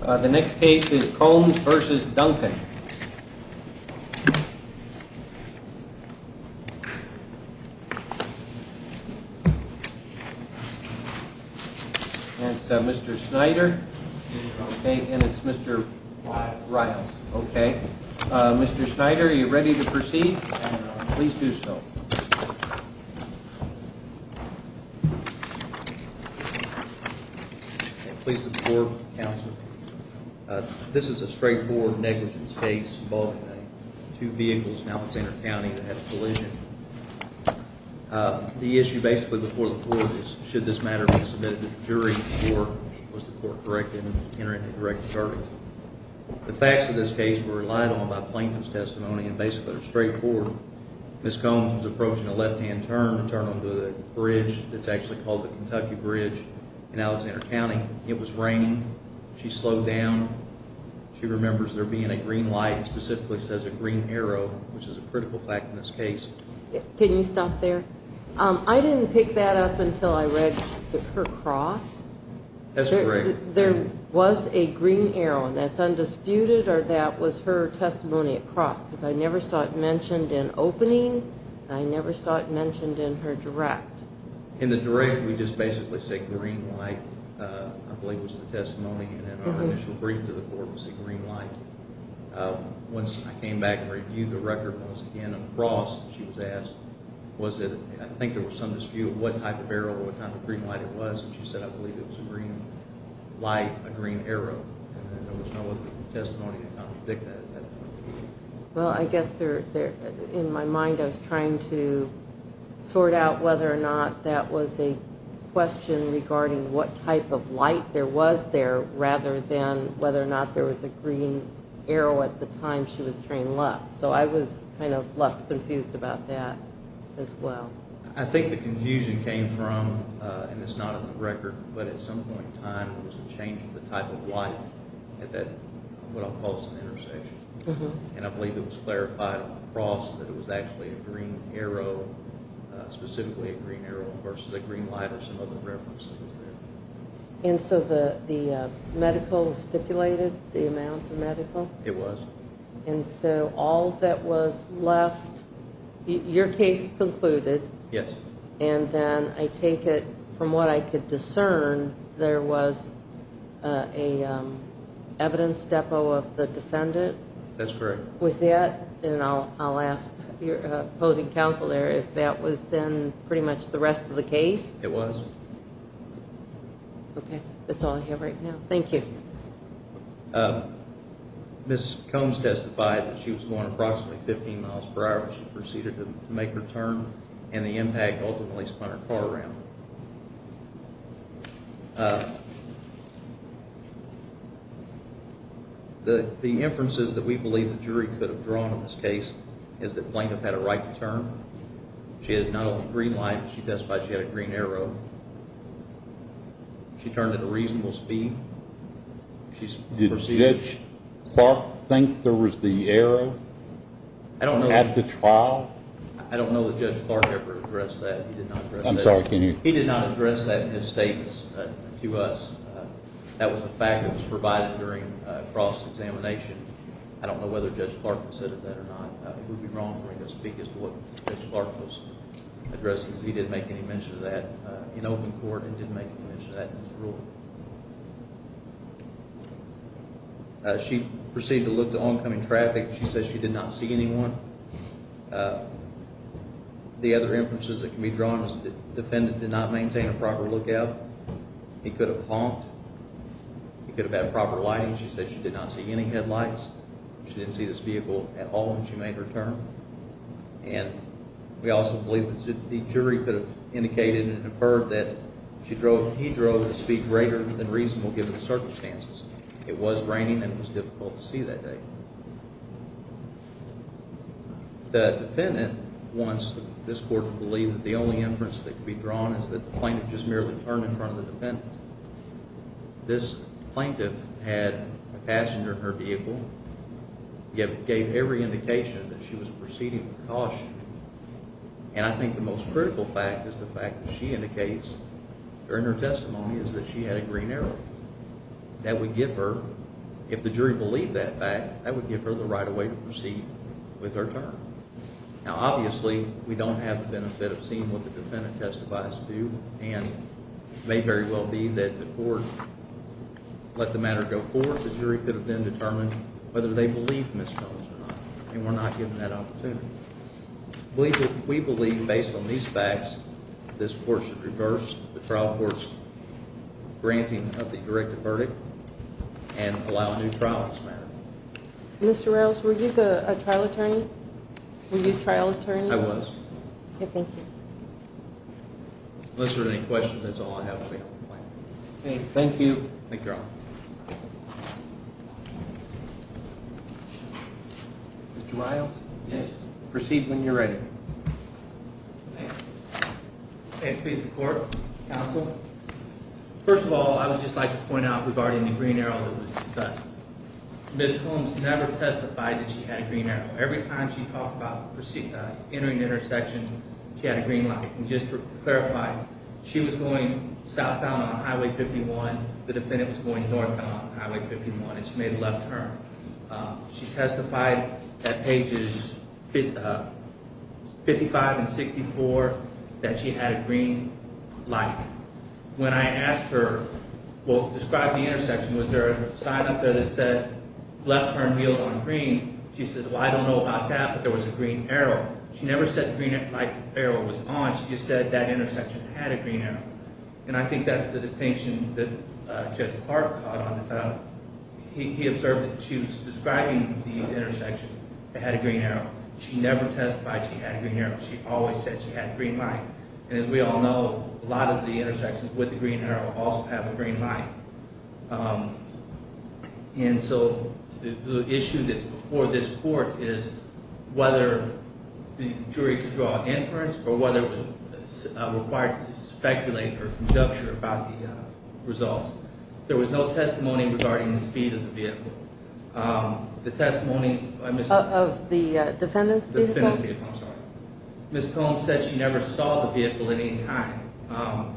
The next case is Combs v. Duncan. It's Mr. Snyder and it's Mr. Riles. Mr. Snyder, are you ready to proceed? Please do so. Please support, counsel. This is a straightforward negligence case involving two vehicles in Alexander County that had a collision. The issue basically before the court is should this matter be submitted to the jury or was the court correct in entering a direct charge? The facts of this case were relied on by Plankton's testimony and basically are straightforward. Ms. Combs was approaching a left-hand turn to turn onto the bridge that's actually called the Kentucky Bridge in Alexander County. It was raining. She slowed down. She remembers there being a green light and specifically says a green arrow, which is a critical fact in this case. Can you stop there? I didn't pick that up until I read her cross. That's correct. There was a green arrow and that's undisputed or that was her testimony at cross because I never saw it mentioned in opening and I never saw it mentioned in her direct. In the direct we just basically say green light. I believe it was the testimony and our initial brief to the court was a green light. Once I came back and reviewed the record once again across, she was asked, I think there was some dispute of what type of arrow or what type of green light it was and she said, I believe it was a green light, a green arrow and there was no other testimony to contradict that. Well, I guess in my mind I was trying to sort out whether or not that was a question regarding what type of light there was there rather than whether or not there was a green arrow at the time she was trained left. So I was kind of left confused about that as well. I think the confusion came from, and it's not in the record, but at some point in time there was a change of the type of light at what I'll call an intersection. And I believe it was clarified across that it was actually a green arrow, specifically a green arrow versus a green light or some other reference that was there. And so the medical stipulated the amount of medical? It was. And so all that was left, your case concluded? Yes. And then I take it from what I could discern, there was a evidence depot of the defendant? That's correct. Was that, and I'll ask your opposing counsel there, if that was then pretty much the rest of the case? It was. Okay. That's all I have right now. Thank you. Ms. Combs testified that she was going approximately 15 miles per hour when she proceeded to make her turn and the impact ultimately spun her car around. The inferences that we believe the jury could have drawn on this case is that Blanketh had a right to turn. She had not only a green light, but she testified she had a green arrow. She turned at a reasonable speed. Did Judge Clark think there was the arrow at the trial? I don't know that Judge Clark ever addressed that. I'm sorry, can you? He did not address that in his statements to us. That was a fact that was provided during a cross-examination. I don't know whether Judge Clark considered that or not. It would be wrong for him to speak as to what Judge Clark was addressing, because he didn't make any mention of that in open court and didn't make any mention of that in his ruling. She proceeded to look to oncoming traffic. She said she did not see anyone. The other inferences that can be drawn is that the defendant did not maintain a proper lookout. He could have honked. He could have had proper lighting. She said she did not see any headlights. She didn't see this vehicle at all when she made her turn. And we also believe that the jury could have indicated and inferred that he drove at speed greater than reasonable given the circumstances. It was raining and it was difficult to see that day. The defendant wants this court to believe that the only inference that can be drawn is that the plaintiff just merely turned in front of the defendant. This plaintiff had a passenger in her vehicle, yet gave every indication that she was proceeding with caution. And I think the most critical fact is the fact that she indicates during her testimony is that she had a green arrow. That would give her, if the jury believed that fact, that would give her the right of way to proceed with her turn. Now, obviously, we don't have the benefit of seeing what the defendant testifies to, and it may very well be that the court let the matter go forward. The jury could have then determined whether they believed Ms. Jones or not, and we're not We believe, based on these facts, this court should reverse the trial court's granting of the directed verdict and allow a new trial for this matter. Mr. Riles, were you the trial attorney? Were you the trial attorney? I was. Okay, thank you. Unless there are any questions, that's all I have for you. Thank you. Thank you, Your Honor. Mr. Riles, proceed when you're ready. May it please the court, counsel. First of all, I would just like to point out regarding the green arrow that was discussed. Ms. Holmes never testified that she had a green arrow. Every time she talked about entering the intersection, she had a green light. And just to clarify, she was going southbound on Highway 51. The defendant was going northbound on Highway 51, and she made a left turn. She testified at pages 55 and 64 that she had a green light. When I asked her, well, describe the intersection. Was there a sign up there that said, left turn wheel on green? She said, well, I don't know about that, but there was a green arrow. She never said the green light arrow was on. She just said that intersection had a green arrow. And I think that's the distinction that Judge Clark caught on the trial. He observed that she was describing the intersection that had a green arrow. She never testified she had a green arrow. She always said she had a green light. And as we all know, a lot of the intersections with the green arrow also have a green light. And so the issue that's before this court is whether the jury could draw an inference or whether it was required to speculate or conjecture about the results. There was no testimony regarding the speed of the vehicle. The testimony of the defendant's vehicle? The defendant's vehicle, I'm sorry. Ms. Combs said she never saw the vehicle at any time.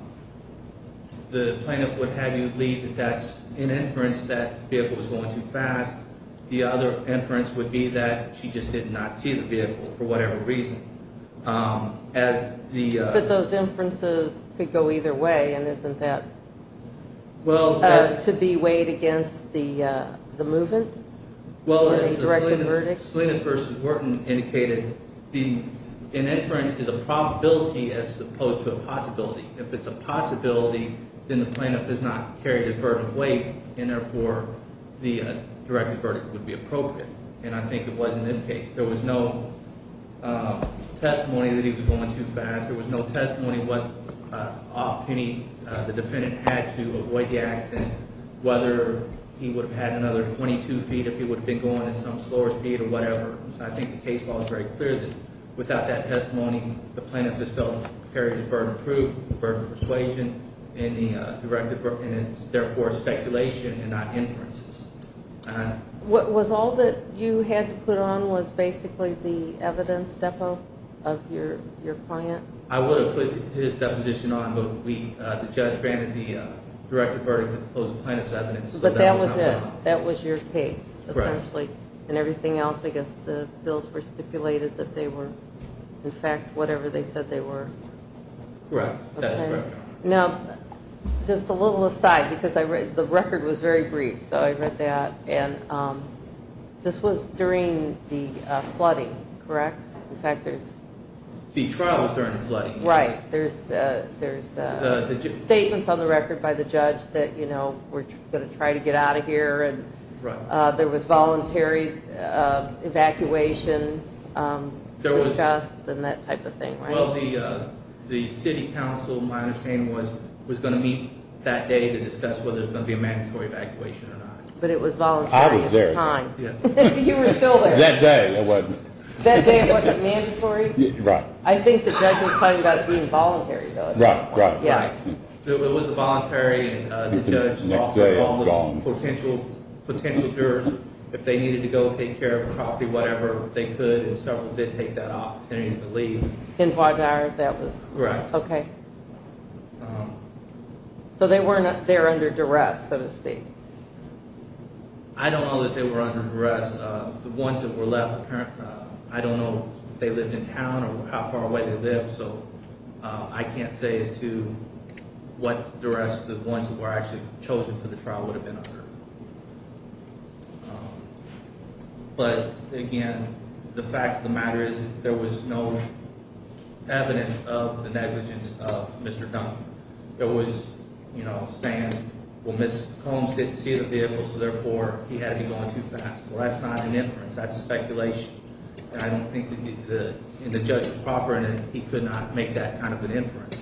The plaintiff would have you believe that that's an inference, that the vehicle was going too fast. The other inference would be that she just did not see the vehicle for whatever reason. But those inferences could go either way, and isn't that to be weighed against the movement in a directed verdict? Salinas v. Wharton indicated an inference is a probability as opposed to a possibility. If it's a possibility, then the plaintiff does not carry the burden of weight, and therefore the directed verdict would be appropriate. And I think it was in this case. There was no testimony that he was going too fast. There was no testimony what opportunity the defendant had to avoid the accident, whether he would have had another 22 feet if he would have been going at some slower speed or whatever. I think the case law is very clear that without that testimony, the plaintiff is still carrying the burden of proof, the burden of persuasion, and therefore speculation and not inferences. Was all that you had to put on was basically the evidence depot of your client? I would have put his deposition on, but the judge granted the directed verdict as opposed to plaintiff's evidence. But that was it. That was your case, essentially. And everything else, I guess the bills were stipulated that they were, in fact, whatever they said they were. Correct. That is correct. Now, just a little aside, because the record was very brief, so I read that. And this was during the flooding, correct? The trial was during the flooding. Right. There's statements on the record by the judge that we're going to try to get out of here. There was voluntary evacuation discussed and that type of thing, right? The city council, my understanding, was going to meet that day to discuss whether it was going to be a mandatory evacuation or not. But it was voluntary at the time. That day it wasn't. That day it wasn't mandatory? Right. I think the judge was talking about it being voluntary, though. Right, right. It was voluntary and the judge offered all the potential jurors, if they needed to go take care of a property, whatever, they could and several did take that opportunity to leave. In Vaadhaar, that was? Correct. Okay. So they were under duress, so to speak. I don't know that they were under duress. The ones that were left, I don't know if they lived in town or how far away they lived, so I can't say as to what duress the ones that were actually chosen for the trial would have been under. But, again, the fact of the matter is there was no evidence of the negligence of Mr. Dunbar. It was, you know, saying, well, Ms. Combs didn't see the vehicle, so therefore he had to be going too fast. Well, that's not an inference. That's speculation. And I don't think the judge was proper and he could not make that kind of an inference.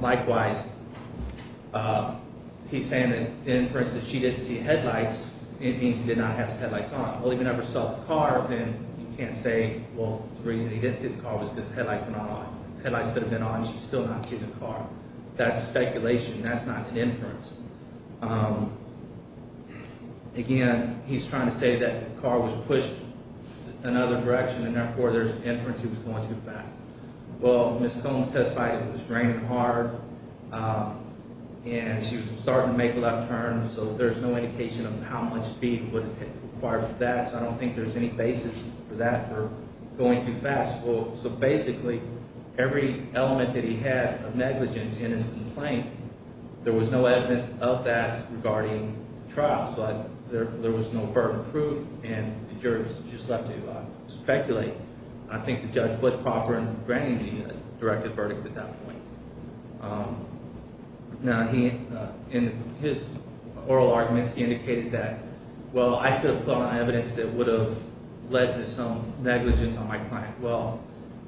Likewise, he's saying that the inference that she didn't see headlights means he did not have his headlights on. Well, if he never saw the car, then you can't say, well, the reason he didn't see the car was because the headlights were not on. The headlights could have been on, but she still did not see the car. That's speculation. That's not an inference. Again, he's trying to say that the car was pushed another direction and therefore there's an inference he was going too fast. Well, Ms. Combs testified it was raining hard and she was starting to make a left turn, so there's no indication of how much speed it would require for that. So I don't think there's any basis for that for going too fast. Well, so basically every element that he had of negligence in his complaint, there was no evidence of that regarding the trial. So there was no burden of proof and the jurors just left to speculate. I think the judge was proper in granting the directive verdict at that point. Now, in his oral arguments, he indicated that, well, I could have put on evidence that would have led to some negligence on my client. Well,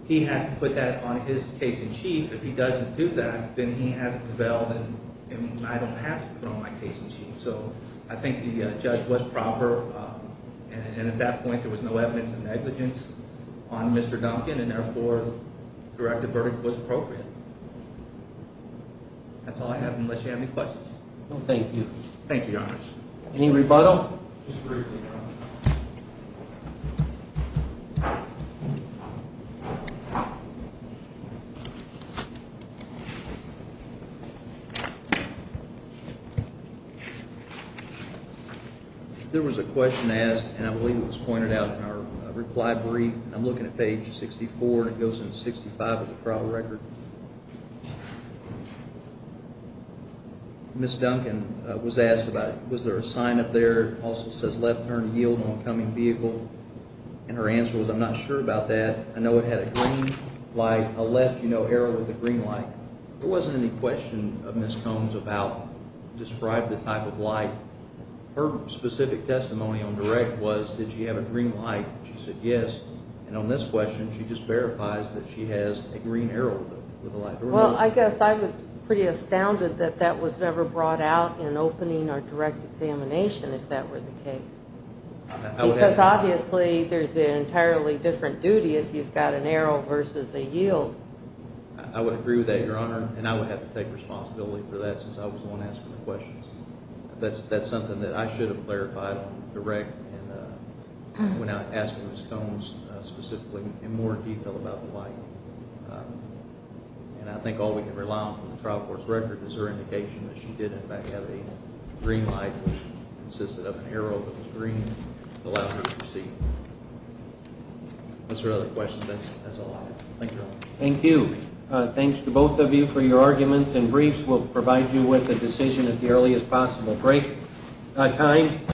he has to put that on his case in chief. If he doesn't do that, then he hasn't prevailed and I don't have to put on my case in chief. So I think the judge was proper and at that point there was no evidence of negligence on Mr. Duncan and therefore the directive verdict was appropriate. That's all I have, unless you have any questions. No, thank you. Thank you, Your Honor. Any rebuttal? There was a question asked and I believe it was pointed out in our reply brief. I'm looking at page 64 and it goes into 65 of the trial record. Ms. Duncan was asked about was there a sign up there that also says left turn yield on coming vehicle and her answer was I'm not sure about that. I know it had a green light, a left arrow with a green light. There wasn't any question of Ms. Combs about describe the type of light. Her specific testimony on direct was did she have a green light? She said yes. And on this question she just verifies that she has a green arrow with a light. Well, I guess I'm pretty astounded that that was never brought out in opening or direct examination if that were the case. Because obviously there's an entirely different duty if you've got an arrow versus a yield. I would agree with that, Your Honor, and I would have to take responsibility for that since I was the one asking the questions. That's something that I should have clarified on direct when I asked Ms. Combs specifically in more detail about the light. And I think all we can rely on from the trial court's record is her agreement to allow her to proceed. Thank you, Your Honor. Thank you. Thanks to both of you for your arguments and briefs. We'll provide you with a decision as early as possible. Break time.